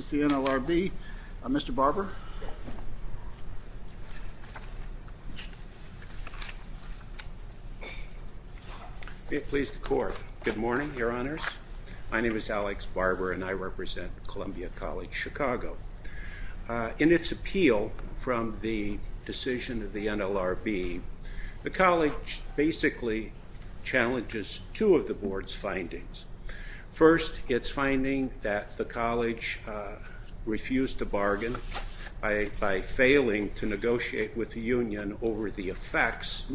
Mr. Barber. Please the court. Good morning, your honors. My name is Alex Barber and I represent Columbia College Chicago. In its appeal from the decision of the NLRB, the college basically challenges two of the board's findings. First, it's finding that the college refused to bargain by failing to negotiate with the union over the effects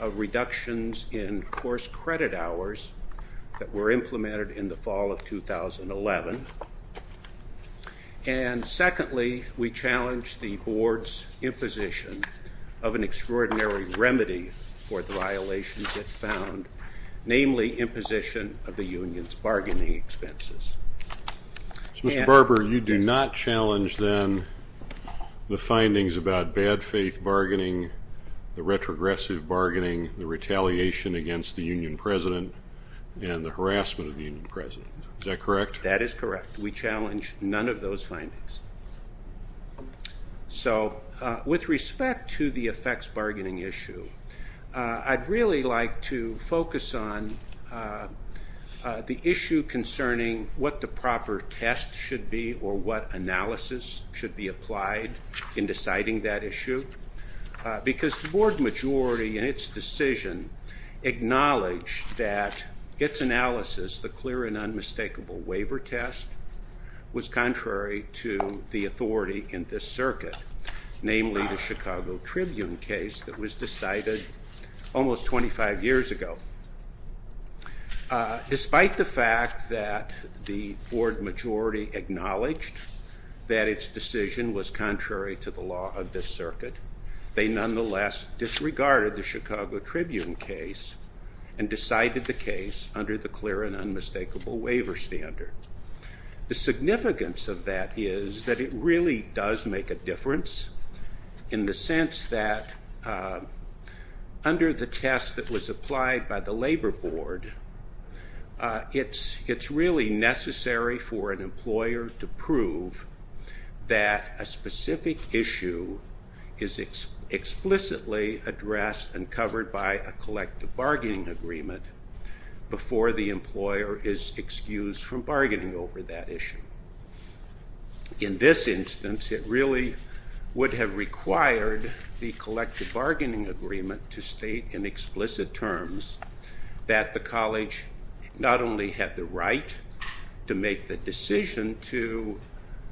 of reductions in course credit hours that were implemented in the fall of 2011. And secondly, we challenge the board's imposition of an extraordinary remedy for the violations it found, namely imposition of the union's bargaining expenses. Mr. Barber, you do not challenge then the findings about bad faith bargaining, the retrogressive bargaining, the retaliation against the union president, and the harassment of the union president. Is that correct? That is correct. We challenge none of those findings. So with respect to the effects bargaining issue, I'd really like to focus on the issue concerning what the proper test should be or what analysis should be applied in deciding that issue. Because the board majority in its decision acknowledged that its analysis, the clear and unmistakable waiver test, was contrary to the authority in this circuit, namely the Chicago Tribune case that was decided almost 25 years ago. Despite the fact that the board majority acknowledged that its decision was contrary to the law of this circuit, they nonetheless disregarded the Chicago Tribune case and decided the case under the clear and unmistakable waiver standard. The significance of that is that it really does make a difference in the sense that under the test that was applied by the labor board, it's really necessary for an employer to prove that a specific issue is explicitly addressed and covered by a collective bargaining agreement before the employer is excused from bargaining over that issue. In this instance, it really would have required the collective bargaining agreement to state in explicit terms that the college not only had the right to make the decision to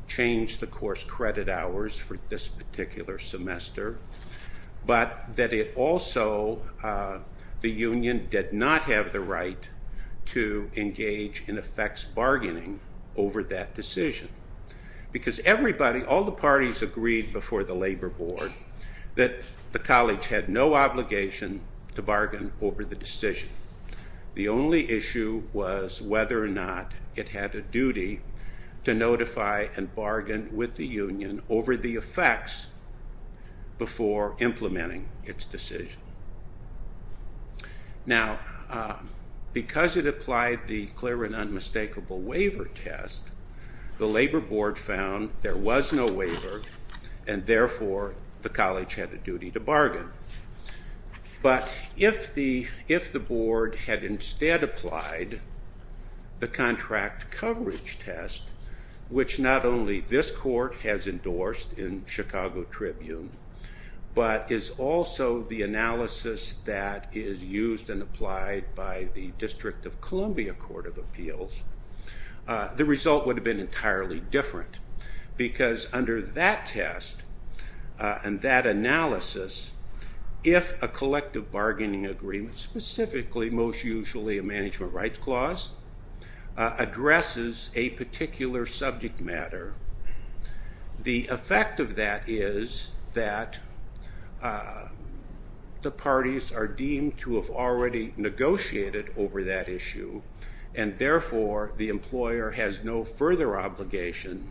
change the course credit hours for this particular semester, but that it also, the union did not have the right to engage in effects bargaining over that decision. Because everybody, all the parties agreed before the labor board that the college had no obligation to bargain over the decision. The only issue was whether or not it had a duty to notify and bargain with the union over the effects before implementing its decision. Now, because it applied the clear and unmistakable waiver test, the labor board found there was no waiver and therefore the college had a duty to bargain. But if the board had instead applied the contract coverage test, which not only this court has endorsed in Chicago Tribune, but is also the analysis that is used and applied by the District of Columbia Court of Appeals, the result would have been entirely different. Because under that test and that analysis, if a collective bargaining agreement, specifically most usually a management rights clause, addresses a particular subject matter, the effect of that is that the parties are deemed to have already negotiated over that issue and therefore the employer has no further obligation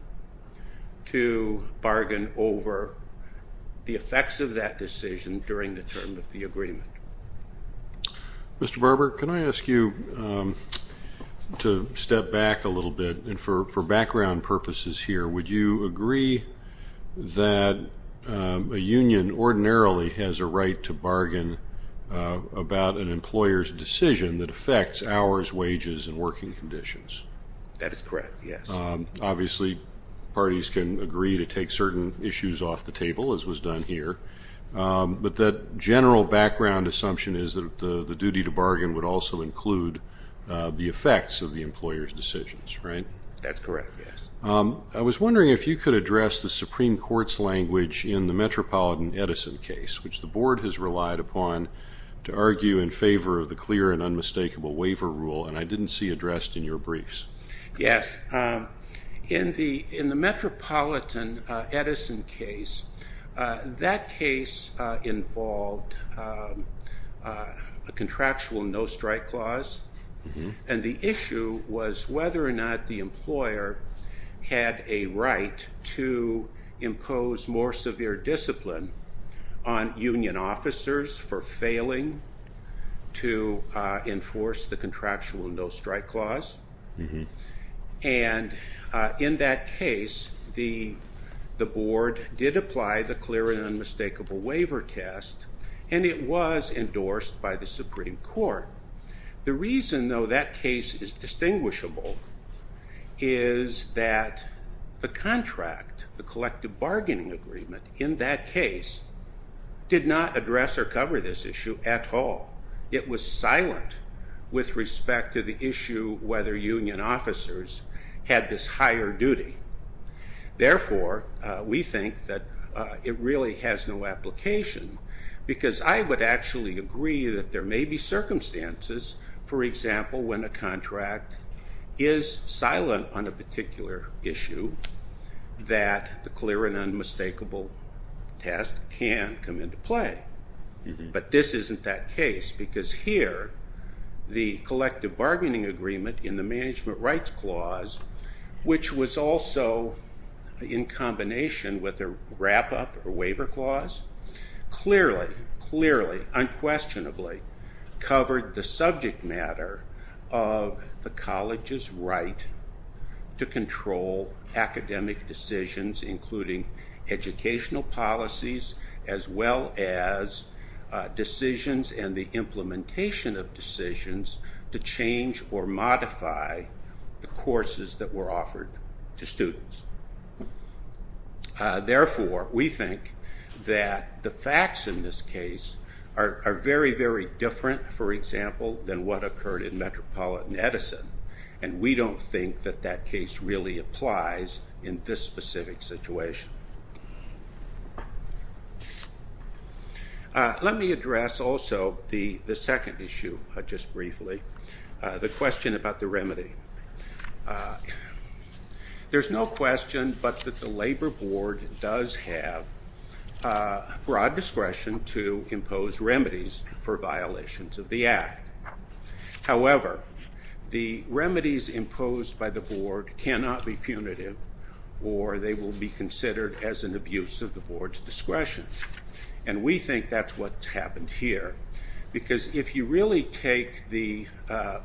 to bargain over the effects of that decision during the term of the agreement. Mr. Barber, can I ask you to step back a little bit? And for background purposes here, would you agree that a union ordinarily has a right to bargain about an employer's decision that affects hours, wages, and working conditions? That is correct, yes. Obviously, parties can agree to take certain issues off the table, as was done here. But that general background assumption is that the duty to bargain would also include the effects of the employer's decisions, right? That's correct, yes. I was wondering if you could address the Supreme Court's language in the Metropolitan Edison case, which the board has relied upon to argue in favor of the clear and unmistakable waiver rule, and I didn't see addressed in your briefs. Yes. In the Metropolitan Edison case, that case involved a contractual no-strike clause, and the issue was whether or not the employer had a right to impose more severe discipline on union officers for failing to enforce the contractual no-strike clause. And in that case, the board did apply the clear and unmistakable waiver test, and it was endorsed by the Supreme Court. The reason, though, that case is distinguishable is that the contract, the collective bargaining agreement in that case, did not address or cover this issue at all. It was silent with respect to the issue whether union officers had this higher duty. Therefore, we think that it really has no application, because I would actually agree that there may be circumstances, for example, when a contract is silent on a particular issue, that the clear and unmistakable test can come into play. But this isn't that case, because here, the collective bargaining agreement in the management rights clause, which was also in combination with a wrap-up or waiver clause, clearly, unquestionably covered the subject matter of the college's right to control academic decisions, including educational policies, as well as decisions and the implementation of decisions to change or modify the courses that were offered to students. Therefore, we think that the facts in this case are very, very different, for example, than what occurred in Metropolitan Edison, and we don't think that that case really applies in this specific situation. Let me address also the second issue, just briefly, the question about the remedy. There's no question but that the labor board does have broad discretion to impose remedies for violations of the act. However, the remedies imposed by the board cannot be punitive, or they will be considered as an abuse of the board's discretion. And we think that's what's happened here, because if you really take the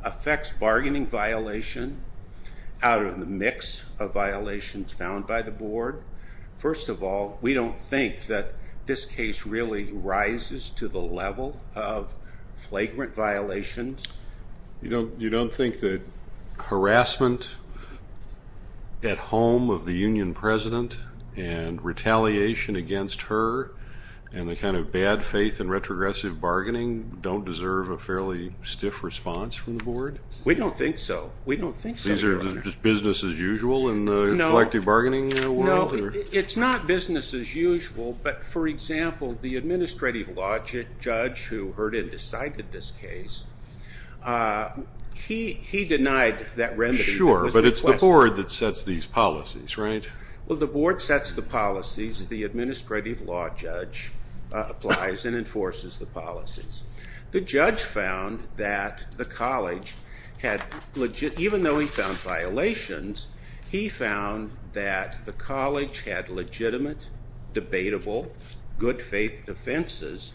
effects bargaining violation out of the mix of violations found by the board, first of all, we don't think that this case really rises to the level of flagrant violations. You don't think that harassment at home of the union president and retaliation against her and the kind of bad faith and retrogressive bargaining don't deserve a fairly stiff response from the board? We don't think so. These are just business as usual in the collective bargaining world? Well, it's not business as usual, but for example, the administrative law judge who heard and decided this case, he denied that remedy. Sure, but it's the board that sets these policies, right? Well, the board sets the policies. The administrative law judge applies and enforces the policies. The judge found that the college had, even though he found violations, he found that the college had legitimate, debatable, good faith defenses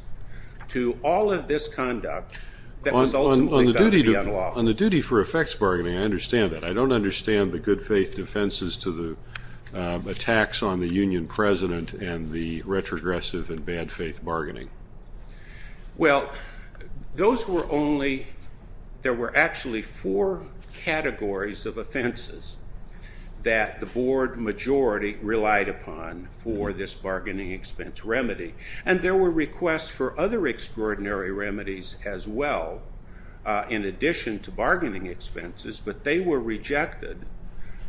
to all of this conduct that was ultimately going to be unlawful. On the duty for effects bargaining, I understand that. I don't understand the good faith defenses to the attacks on the union president and the retrogressive and bad faith bargaining. Well, there were actually four categories of offenses that the board majority relied upon for this bargaining expense remedy. And there were requests for other extraordinary remedies as well in addition to bargaining expenses, but they were rejected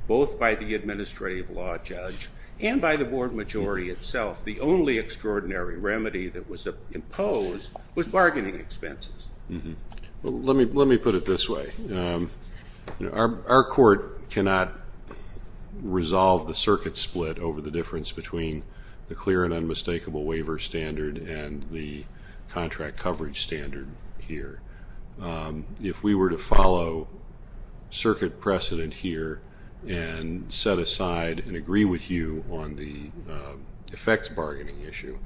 both by the administrative law judge and by the board majority itself. The only extraordinary remedy that was imposed was bargaining expenses. Let me put it this way. Our court cannot resolve the circuit split over the difference between the clear and unmistakable waiver standard and the contract coverage standard here. If we were to follow circuit precedent here and set aside and agree with you on the effects bargaining issue,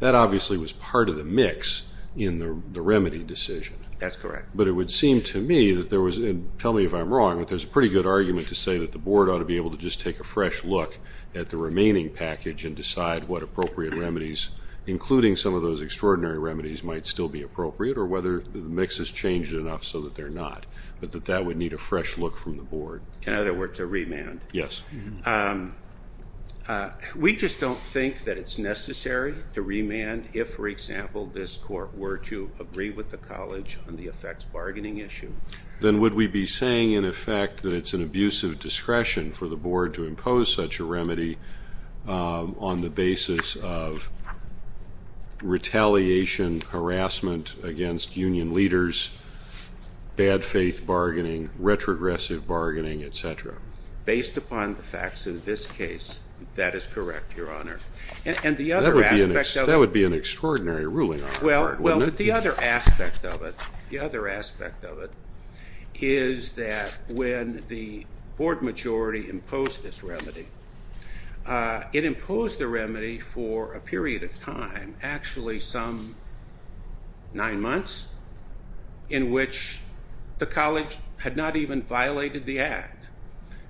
that obviously was part of the mix in the remedy decision. That's correct. But it would seem to me that there was, and tell me if I'm wrong, but there's a pretty good argument to say that the board ought to be able to just take a fresh look at the remaining package and decide what appropriate remedies, including some of those extraordinary remedies, might still be appropriate or whether the mix has changed enough so that they're not, but that that would need a fresh look from the board. In other words, a remand. Yes. We just don't think that it's necessary to remand if, for example, this court were to agree with the college on the effects bargaining issue. Then would we be saying, in effect, that it's an abusive discretion for the board to impose such a remedy on the basis of retaliation, harassment against union leaders, bad faith bargaining, retrogressive bargaining, et cetera? Based upon the facts in this case, that is correct, Your Honor. And the other aspect of it. That would be an extraordinary ruling on the board, wouldn't it? Well, the other aspect of it, the other aspect of it is that when the board majority imposed this remedy, it imposed the remedy for a period of time, actually some nine months, in which the college had not even violated the act.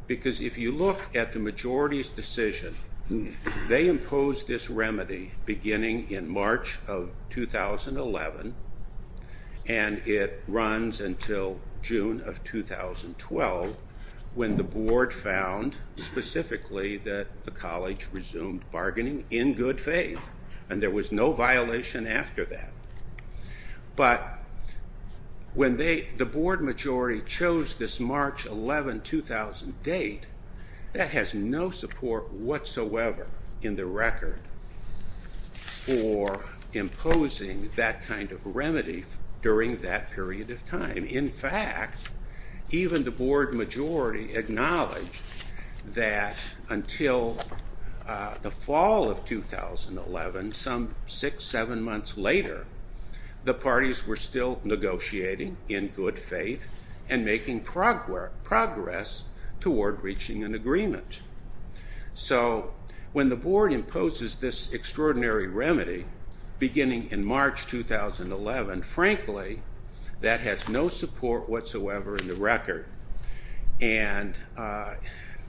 Because if you look at the majority's decision, they imposed this remedy beginning in March of 2011 and it runs until June of 2012 when the board found specifically that the college resumed bargaining in good faith. And there was no violation after that. But when the board majority chose this March 11, 2000 date, that has no support whatsoever in the record for imposing that kind of remedy during that period of time. In fact, even the board majority acknowledged that until the fall of 2011, some six, seven months later, the parties were still negotiating in good faith and making progress toward reaching an agreement. So when the board imposes this extraordinary remedy beginning in March 2011, frankly, that has no support whatsoever in the record. And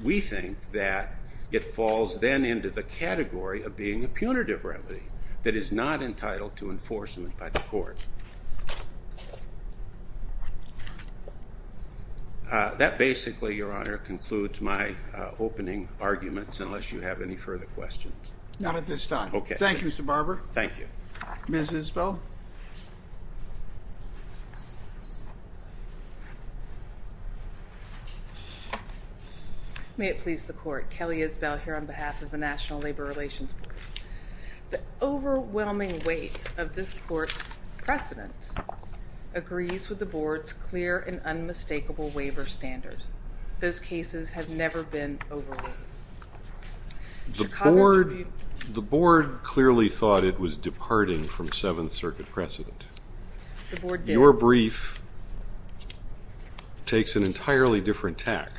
we think that it falls then into the category of being a punitive remedy that is not entitled to enforcement by the court. That basically, Your Honor, concludes my opening arguments, unless you have any further questions. Not at this time. Okay. Thank you, Mr. Barber. Thank you. Ms. Isbell. May it please the court. Kelly Isbell here on behalf of the National Labor Relations Board. The overwhelming weight of this court's precedent agrees with the board's clear and unmistakable waiver standard. Those cases have never been overruled. The board clearly thought it was departing from Seventh Circuit precedent. Your brief takes an entirely different tack,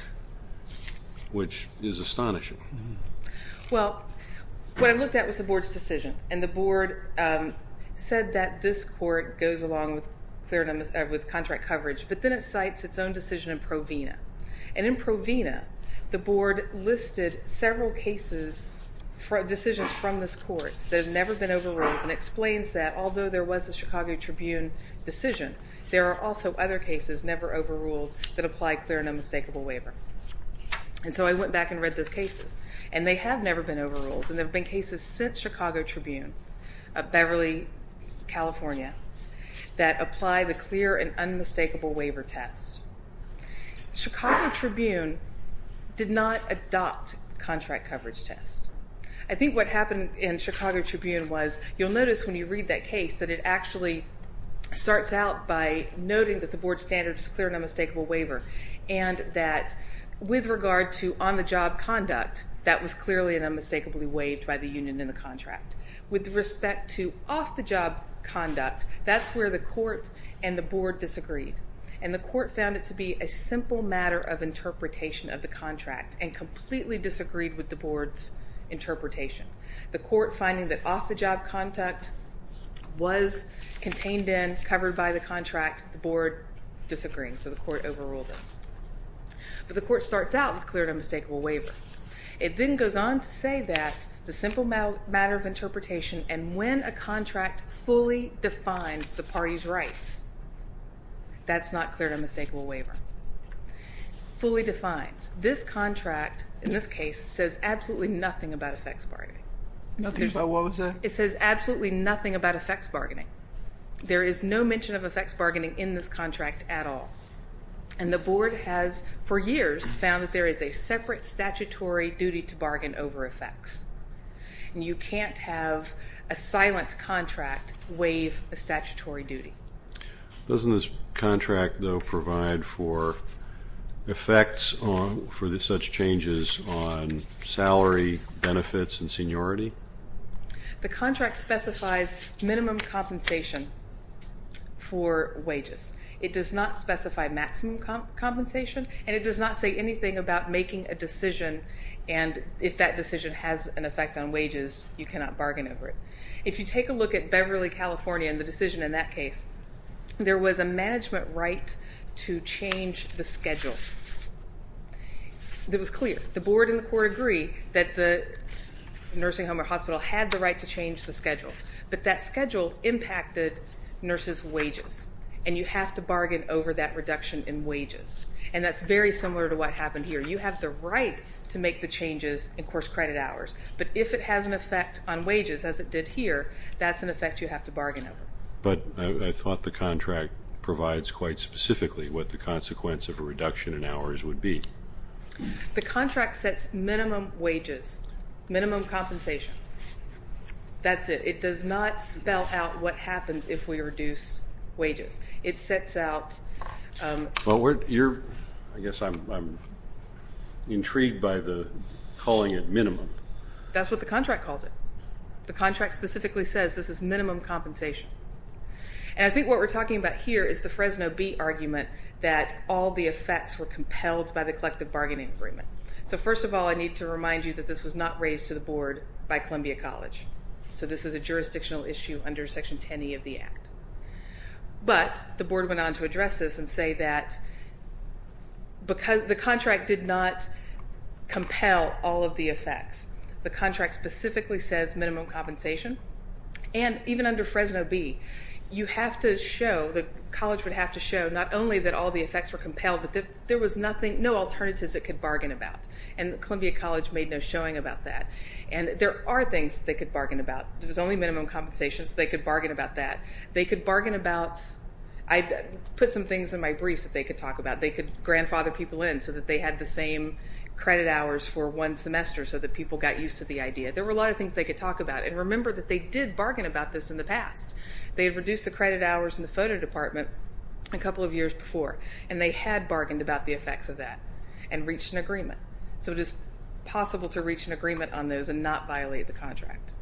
which is astonishing. Well, what I looked at was the board's decision, and the board said that this court goes along with contract coverage, but then it cites its own decision in Provena. And in Provena, the board listed several cases, decisions from this court that have never been overruled and explains that although there was a Chicago Tribune decision, there are also other cases never overruled that apply clear and unmistakable waiver. And so I went back and read those cases, and they have never been overruled. And there have been cases since Chicago Tribune of Beverly, California, that apply the clear and unmistakable waiver test. Chicago Tribune did not adopt the contract coverage test. I think what happened in Chicago Tribune was you'll notice when you read that case that it actually starts out by noting that the board's standard is clear and unmistakable waiver and that with regard to on-the-job conduct, that was clearly and unmistakably waived by the union in the contract. With respect to off-the-job conduct, that's where the court and the board disagreed. And the court found it to be a simple matter of interpretation of the contract and completely disagreed with the board's interpretation. The court finding that off-the-job conduct was contained in, covered by the contract, the board disagreed, so the court overruled it. But the court starts out with clear and unmistakable waiver. It then goes on to say that it's a simple matter of interpretation and when a contract fully defines the party's rights, that's not clear and unmistakable waiver. Fully defines. This contract, in this case, says absolutely nothing about effects bargaining. Nothing about what was that? It says absolutely nothing about effects bargaining. There is no mention of effects bargaining in this contract at all. And the board has, for years, found that there is a separate statutory duty to bargain over effects. And you can't have a silent contract waive a statutory duty. Doesn't this contract, though, provide for effects for such changes on salary, benefits, and seniority? The contract specifies minimum compensation for wages. It does not specify maximum compensation and it does not say anything about making a decision and if that decision has an effect on wages, you cannot bargain over it. If you take a look at Beverly, California and the decision in that case, there was a management right to change the schedule. It was clear. The board and the court agree that the nursing home or hospital had the right to change the schedule. But that schedule impacted nurses' wages and you have to bargain over that reduction in wages. And that's very similar to what happened here. You have the right to make the changes in course credit hours. But if it has an effect on wages, as it did here, that's an effect you have to bargain over. But I thought the contract provides quite specifically what the consequence of a reduction in hours would be. The contract sets minimum wages, minimum compensation. That's it. It does not spell out what happens if we reduce wages. Well, I guess I'm intrigued by the calling it minimum. That's what the contract calls it. The contract specifically says this is minimum compensation. And I think what we're talking about here is the Fresno B argument that all the effects were compelled by the collective bargaining agreement. So first of all, I need to remind you that this was not raised to the board by Columbia College. So this is a jurisdictional issue under Section 10E of the Act. But the board went on to address this and say that the contract did not compel all of the effects. The contract specifically says minimum compensation. And even under Fresno B, you have to show, the college would have to show not only that all the effects were compelled, but there was no alternatives it could bargain about. And Columbia College made no showing about that. And there are things they could bargain about. There was only minimum compensation, so they could bargain about that. They could bargain about, I put some things in my briefs that they could talk about. They could grandfather people in so that they had the same credit hours for one semester so that people got used to the idea. There were a lot of things they could talk about. And remember that they did bargain about this in the past. They had reduced the credit hours in the photo department a couple of years before. And they had bargained about the effects of that and reached an agreement. So it is possible to reach an agreement on those and not violate the contract.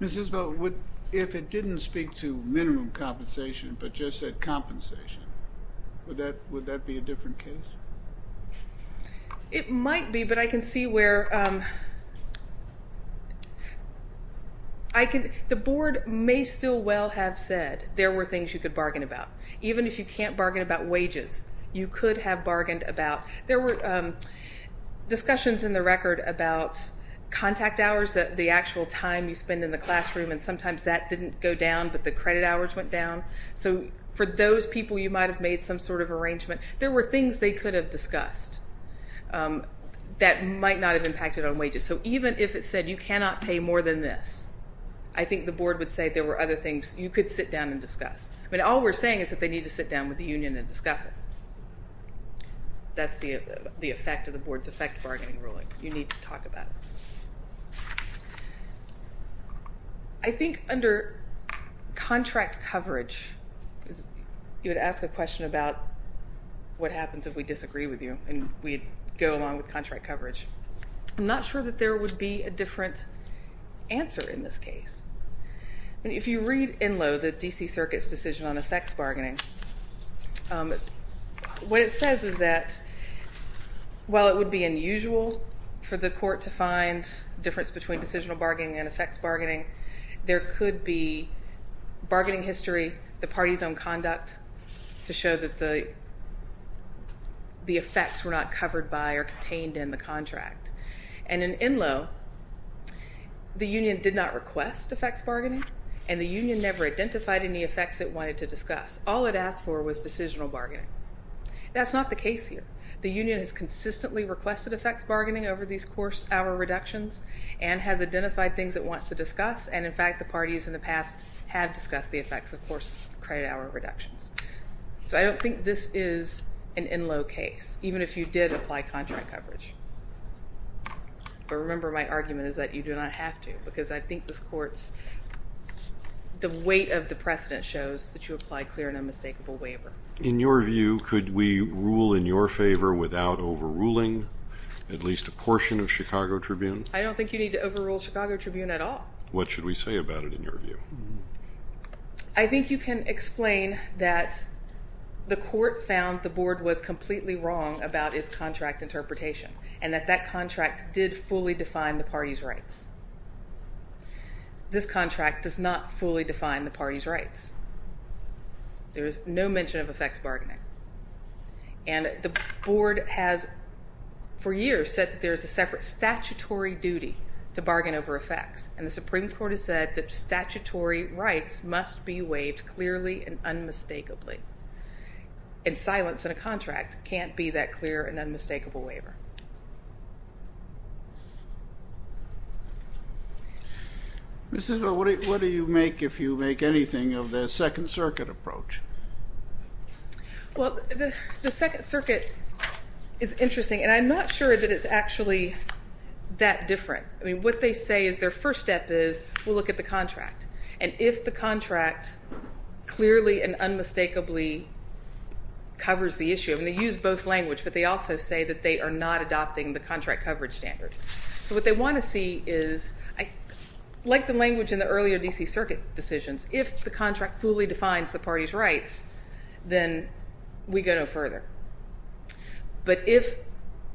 Ms. Isbell, if it didn't speak to minimum compensation but just said compensation, would that be a different case? It might be, but I can see where the board may still well have said there were things you could bargain about. Even if you can't bargain about wages, you could have bargained about. There were discussions in the record about contact hours, the actual time you spend in the classroom, and sometimes that didn't go down, but the credit hours went down. So for those people, you might have made some sort of arrangement. There were things they could have discussed that might not have impacted on wages. So even if it said you cannot pay more than this, I think the board would say there were other things you could sit down and discuss. But all we're saying is that they need to sit down with the union and discuss it. That's the effect of the board's effect bargaining ruling. You need to talk about it. I think under contract coverage, you would ask a question about what happens if we disagree with you, and we'd go along with contract coverage. I'm not sure that there would be a different answer in this case. If you read ENLO, the D.C. Circuit's Decision on Effects Bargaining, what it says is that while it would be unusual for the court to find difference between decisional bargaining and effects bargaining, there could be bargaining history, the party's own conduct, to show that the effects were not covered by or contained in the contract. And in ENLO, the union did not request effects bargaining, and the union never identified any effects it wanted to discuss. All it asked for was decisional bargaining. That's not the case here. The union has consistently requested effects bargaining over these course hour reductions and has identified things it wants to discuss, and in fact, the parties in the past have discussed the effects of course credit hour reductions. So I don't think this is an ENLO case, even if you did apply contract coverage. But remember, my argument is that you do not have to because I think this court's, the weight of the precedent shows that you applied clear and unmistakable waiver. In your view, could we rule in your favor without overruling at least a portion of Chicago Tribune? I don't think you need to overrule Chicago Tribune at all. What should we say about it in your view? I think you can explain that the court found the board was completely wrong about its contract interpretation and that that contract did fully define the party's rights. This contract does not fully define the party's rights. There is no mention of effects bargaining. And the board has for years said that there is a separate statutory duty to bargain over effects, and the Supreme Court has said that statutory rights must be waived clearly and unmistakably. And silence in a contract can't be that clear and unmistakable waiver. Mrs. Bell, what do you make if you make anything of the Second Circuit approach? Well, the Second Circuit is interesting, and I'm not sure that it's actually that different. I mean, what they say is their first step is we'll look at the contract. And if the contract clearly and unmistakably covers the issue, and they use both language, but they also say that they are not adopting the contract coverage standard. So what they want to see is, like the language in the earlier D.C. Circuit decisions, if the contract fully defines the party's rights, then we go no further. But if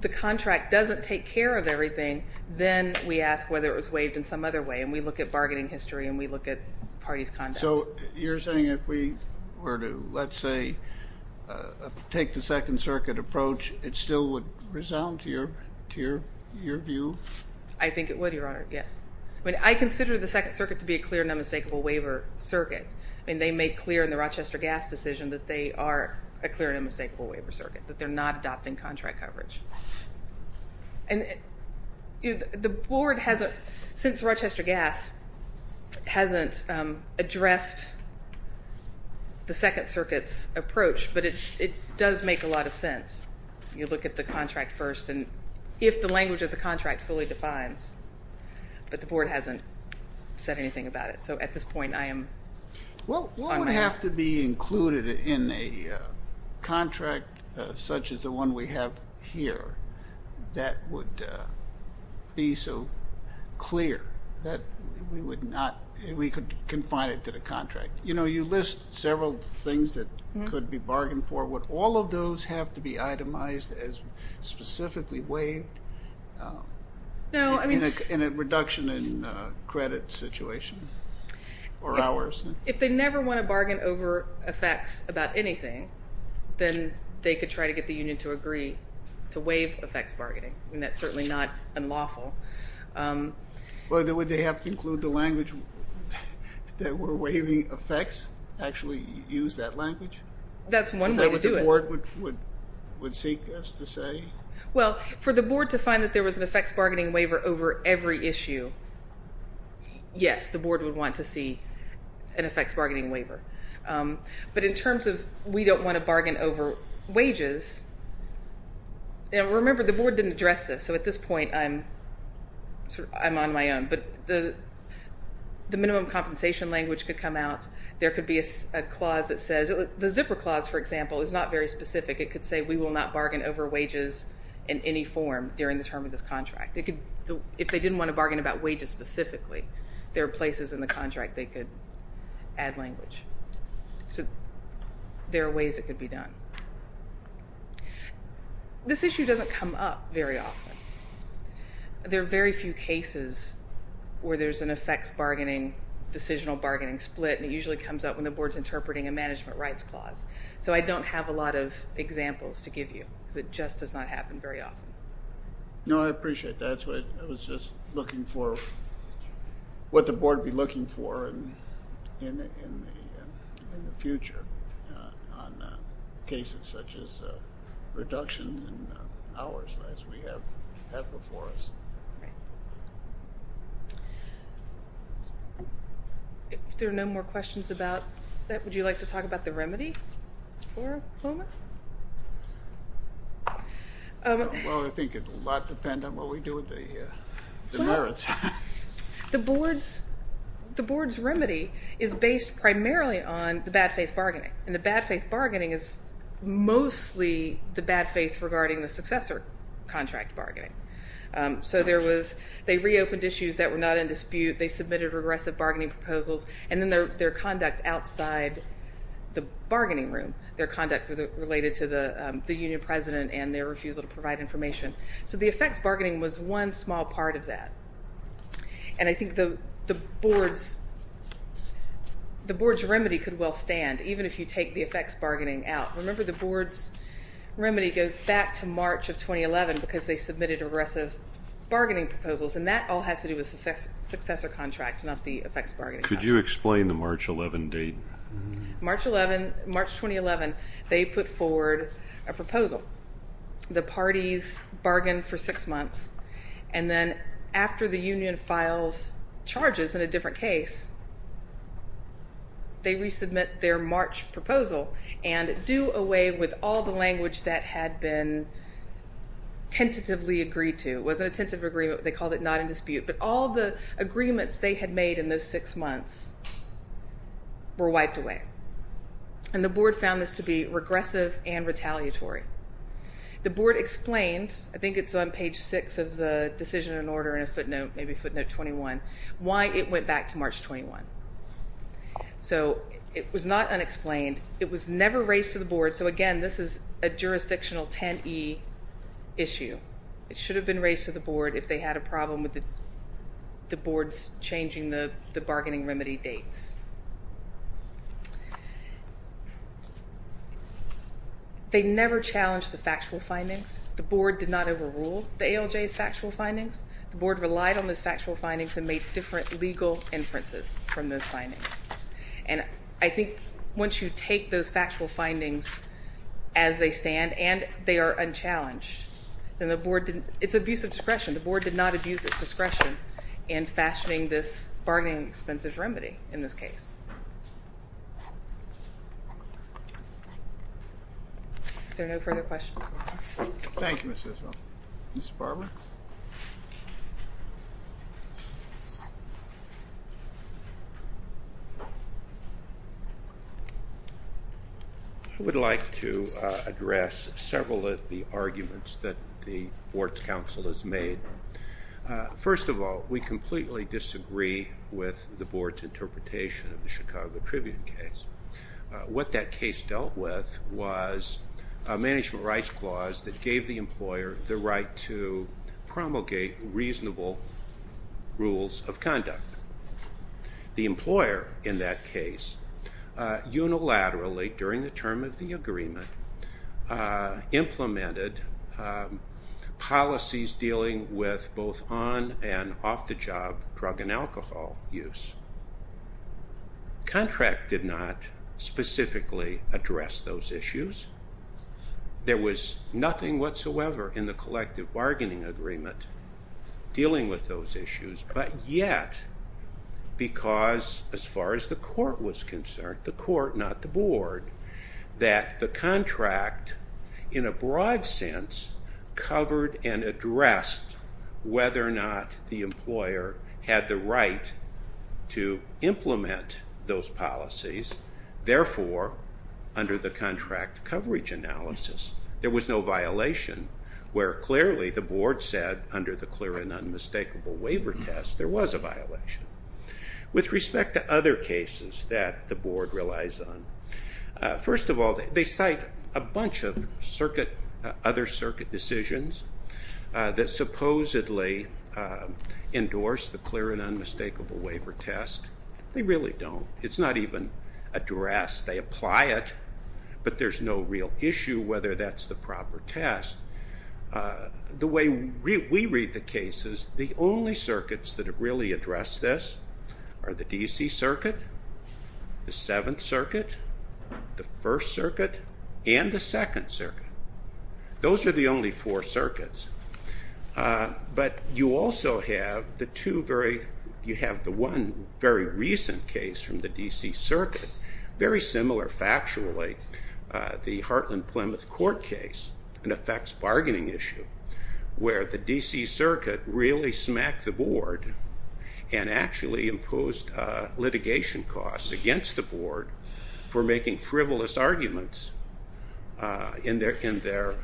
the contract doesn't take care of everything, then we ask whether it was waived in some other way, and we look at bargaining history, and we look at parties' conduct. So you're saying if we were to, let's say, take the Second Circuit approach, it still would resound to your view? I think it would, Your Honor, yes. I mean, I consider the Second Circuit to be a clear and unmistakable waiver circuit. I mean, they make clear in the Rochester Gas decision that they are a clear and unmistakable waiver circuit, that they're not adopting contract coverage. And the board hasn't, since Rochester Gas hasn't addressed the Second Circuit's approach, but it does make a lot of sense. You look at the contract first, and if the language of the contract fully defines, but the board hasn't said anything about it. It would have to be included in a contract such as the one we have here that would be so clear that we would not, we could confine it to the contract. You know, you list several things that could be bargained for. Would all of those have to be itemized as specifically waived in a reduction in credit situation or hours? If they never want to bargain over effects about anything, then they could try to get the union to agree to waive effects bargaining, and that's certainly not unlawful. Well, would they have to include the language that we're waiving effects, actually use that language? That's one way to do it. Is that what the board would seek us to say? Well, for the board to find that there was an effects bargaining waiver over every issue, yes, the board would want to see an effects bargaining waiver. But in terms of we don't want to bargain over wages, and remember the board didn't address this, so at this point I'm on my own, but the minimum compensation language could come out. There could be a clause that says, the zipper clause, for example, is not very specific. It could say we will not bargain over wages in any form during the term of this contract. If they didn't want to bargain about wages specifically, there are places in the contract they could add language. So there are ways it could be done. This issue doesn't come up very often. There are very few cases where there's an effects bargaining, decisional bargaining split, and it usually comes up when the board's interpreting a management rights clause. So I don't have a lot of examples to give you because it just does not happen very often. No, I appreciate that. I was just looking for what the board would be looking for in the future on cases such as reduction in hours as we have before us. If there are no more questions about that, would you like to talk about the remedy for a moment? Well, I think it would a lot depend on what we do with the merits. The board's remedy is based primarily on the bad faith bargaining, and the bad faith bargaining is mostly the bad faith regarding the successor contract bargaining. So there was, they reopened issues that were not in dispute. They submitted regressive bargaining proposals, and then their conduct outside the bargaining room, their conduct related to the union president and their refusal to provide information. So the effects bargaining was one small part of that, and I think the board's remedy could well stand even if you take the effects bargaining out. Remember, the board's remedy goes back to March of 2011 because they submitted regressive bargaining proposals, and that all has to do with the successor contract, not the effects bargaining contract. Could you explain the March 11 date? March 11, March 2011, they put forward a proposal. The parties bargained for six months, and then after the union files charges in a different case, they resubmit their March proposal and do away with all the language that had been tentatively agreed to. It wasn't a tentative agreement. They called it not in dispute, but all the agreements they had made in those six months were wiped away, and the board found this to be regressive and retaliatory. The board explained, I think it's on page six of the decision and order in a footnote, maybe footnote 21, why it went back to March 21. So it was not unexplained. It was never raised to the board. So again, this is a jurisdictional 10E issue. It should have been raised to the board if they had a problem with the board's changing the bargaining remedy dates. They never challenged the factual findings. The board did not overrule the ALJ's factual findings. The board relied on those factual findings and made different legal inferences from those findings. And I think once you take those factual findings as they stand and they are unchallenged, then the board didn't, it's abuse of discretion. The board did not abuse its discretion in fashioning this bargaining expenses remedy in this case. Are there no further questions? Thank you, Mr. Ismael. Mr. Barber? I would like to address several of the arguments that the board's counsel has made. First of all, we completely disagree with the board's interpretation of the Chicago Tribune case. What that case dealt with was a management rights clause that gave the employer the right to promulgate reasonable rules of conduct. The employer in that case unilaterally, during the term of the agreement, implemented policies dealing with both on- and off-the-job drug and alcohol use. The contract did not specifically address those issues. There was nothing whatsoever in the collective bargaining agreement dealing with those issues. But yet, because as far as the court was concerned, the court, not the board, that the contract, in a broad sense, covered and addressed whether or not the employer had the right to implement those policies. Therefore, under the contract coverage analysis, there was no violation, where clearly the board said, under the clear and unmistakable waiver test, there was a violation. With respect to other cases that the board relies on, first of all, they cite a bunch of other circuit decisions that supposedly endorse the clear and unmistakable waiver test. They really don't. It's not even addressed. They apply it, but there's no real issue whether that's the proper test. The way we read the cases, the only circuits that really address this are the D.C. Circuit, the Seventh Circuit, the First Circuit, and the Second Circuit. Those are the only four circuits. But you also have the one very recent case from the D.C. Circuit, very similar factually, the Heartland Plymouth court case, an effects bargaining issue, where the D.C. Circuit really smacked the board and actually imposed litigation costs against the board for making frivolous arguments in their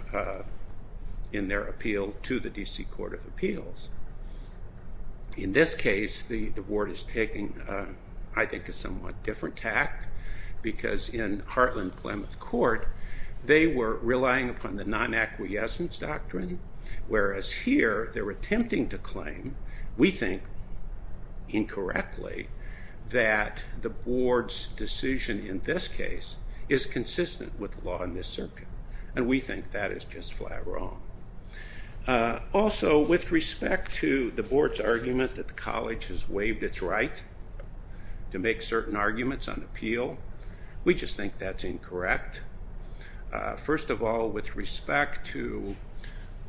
appeal to the D.C. Court of Appeals. In this case, the board is taking, I think, a somewhat different tact, because in Heartland Plymouth court, they were relying upon the non-acquiescence doctrine, whereas here, they're attempting to claim, we think, incorrectly, that the board's decision in this case is consistent with the law in this circuit, and we think that is just flat wrong. Also, with respect to the board's argument that the college has waived its right to make certain arguments on appeal, we just think that's incorrect. First of all, with respect to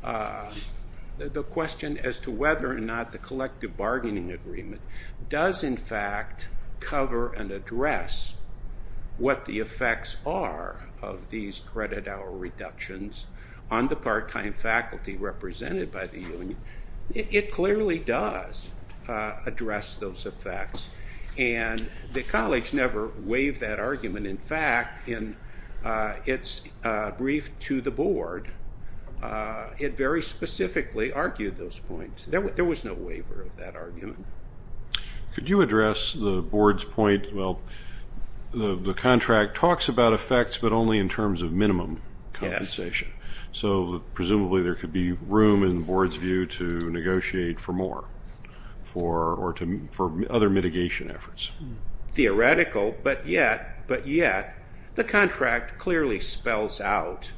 the question as to whether or not the collective bargaining agreement does, in fact, cover and address what the effects are of these credit hour reductions on the part-time faculty represented by the union, it clearly does address those effects, and the college never waived that argument. In fact, in its brief to the board, it very specifically argued those points. Could you address the board's point, well, the contract talks about effects, but only in terms of minimum compensation, so presumably there could be room, in the board's view, to negotiate for more or for other mitigation efforts. Theoretical, but yet the contract clearly spells out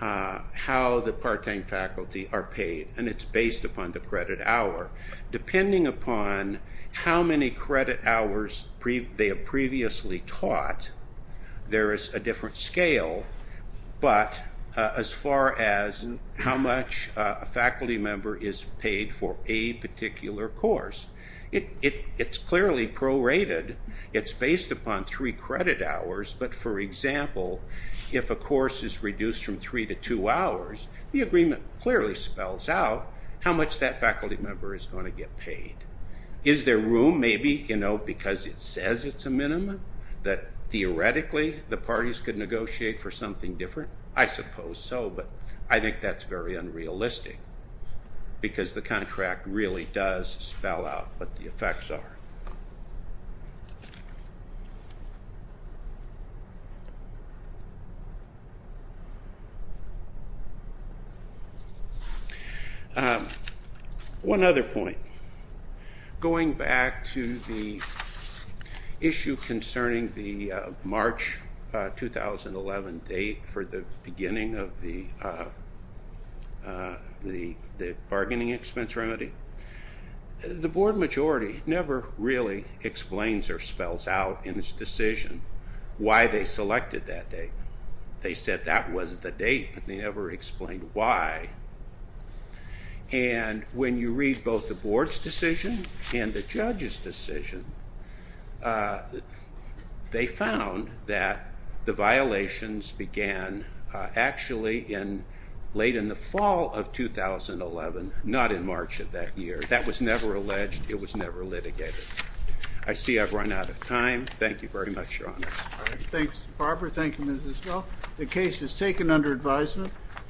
how the part-time faculty are paid, and it's based upon the credit hour. Depending upon how many credit hours they have previously taught, there is a different scale, but as far as how much a faculty member is paid for a particular course, it's clearly prorated. It's based upon three credit hours, but, for example, if a course is reduced from three to two hours, the agreement clearly spells out how much that faculty member is going to get paid. Is there room, maybe, because it says it's a minimum, that, theoretically, the parties could negotiate for something different? I suppose so, but I think that's very unrealistic, because the contract really does spell out what the effects are. One other point. Going back to the issue concerning the March 2011 date for the beginning of the bargaining expense remedy, the board majority never really explains or spells out in its decision why they selected that date. They said that was the date, but they never explained why. And when you read both the board's decision and the judge's decision, they found that the violations began actually late in the fall of 2011, not in March of that year. That was never alleged. It was never litigated. I see I've run out of time. Thank you very much, Your Honor. Thanks, Barbara. Thank you, Mrs. Smith. The case is taken under advisement.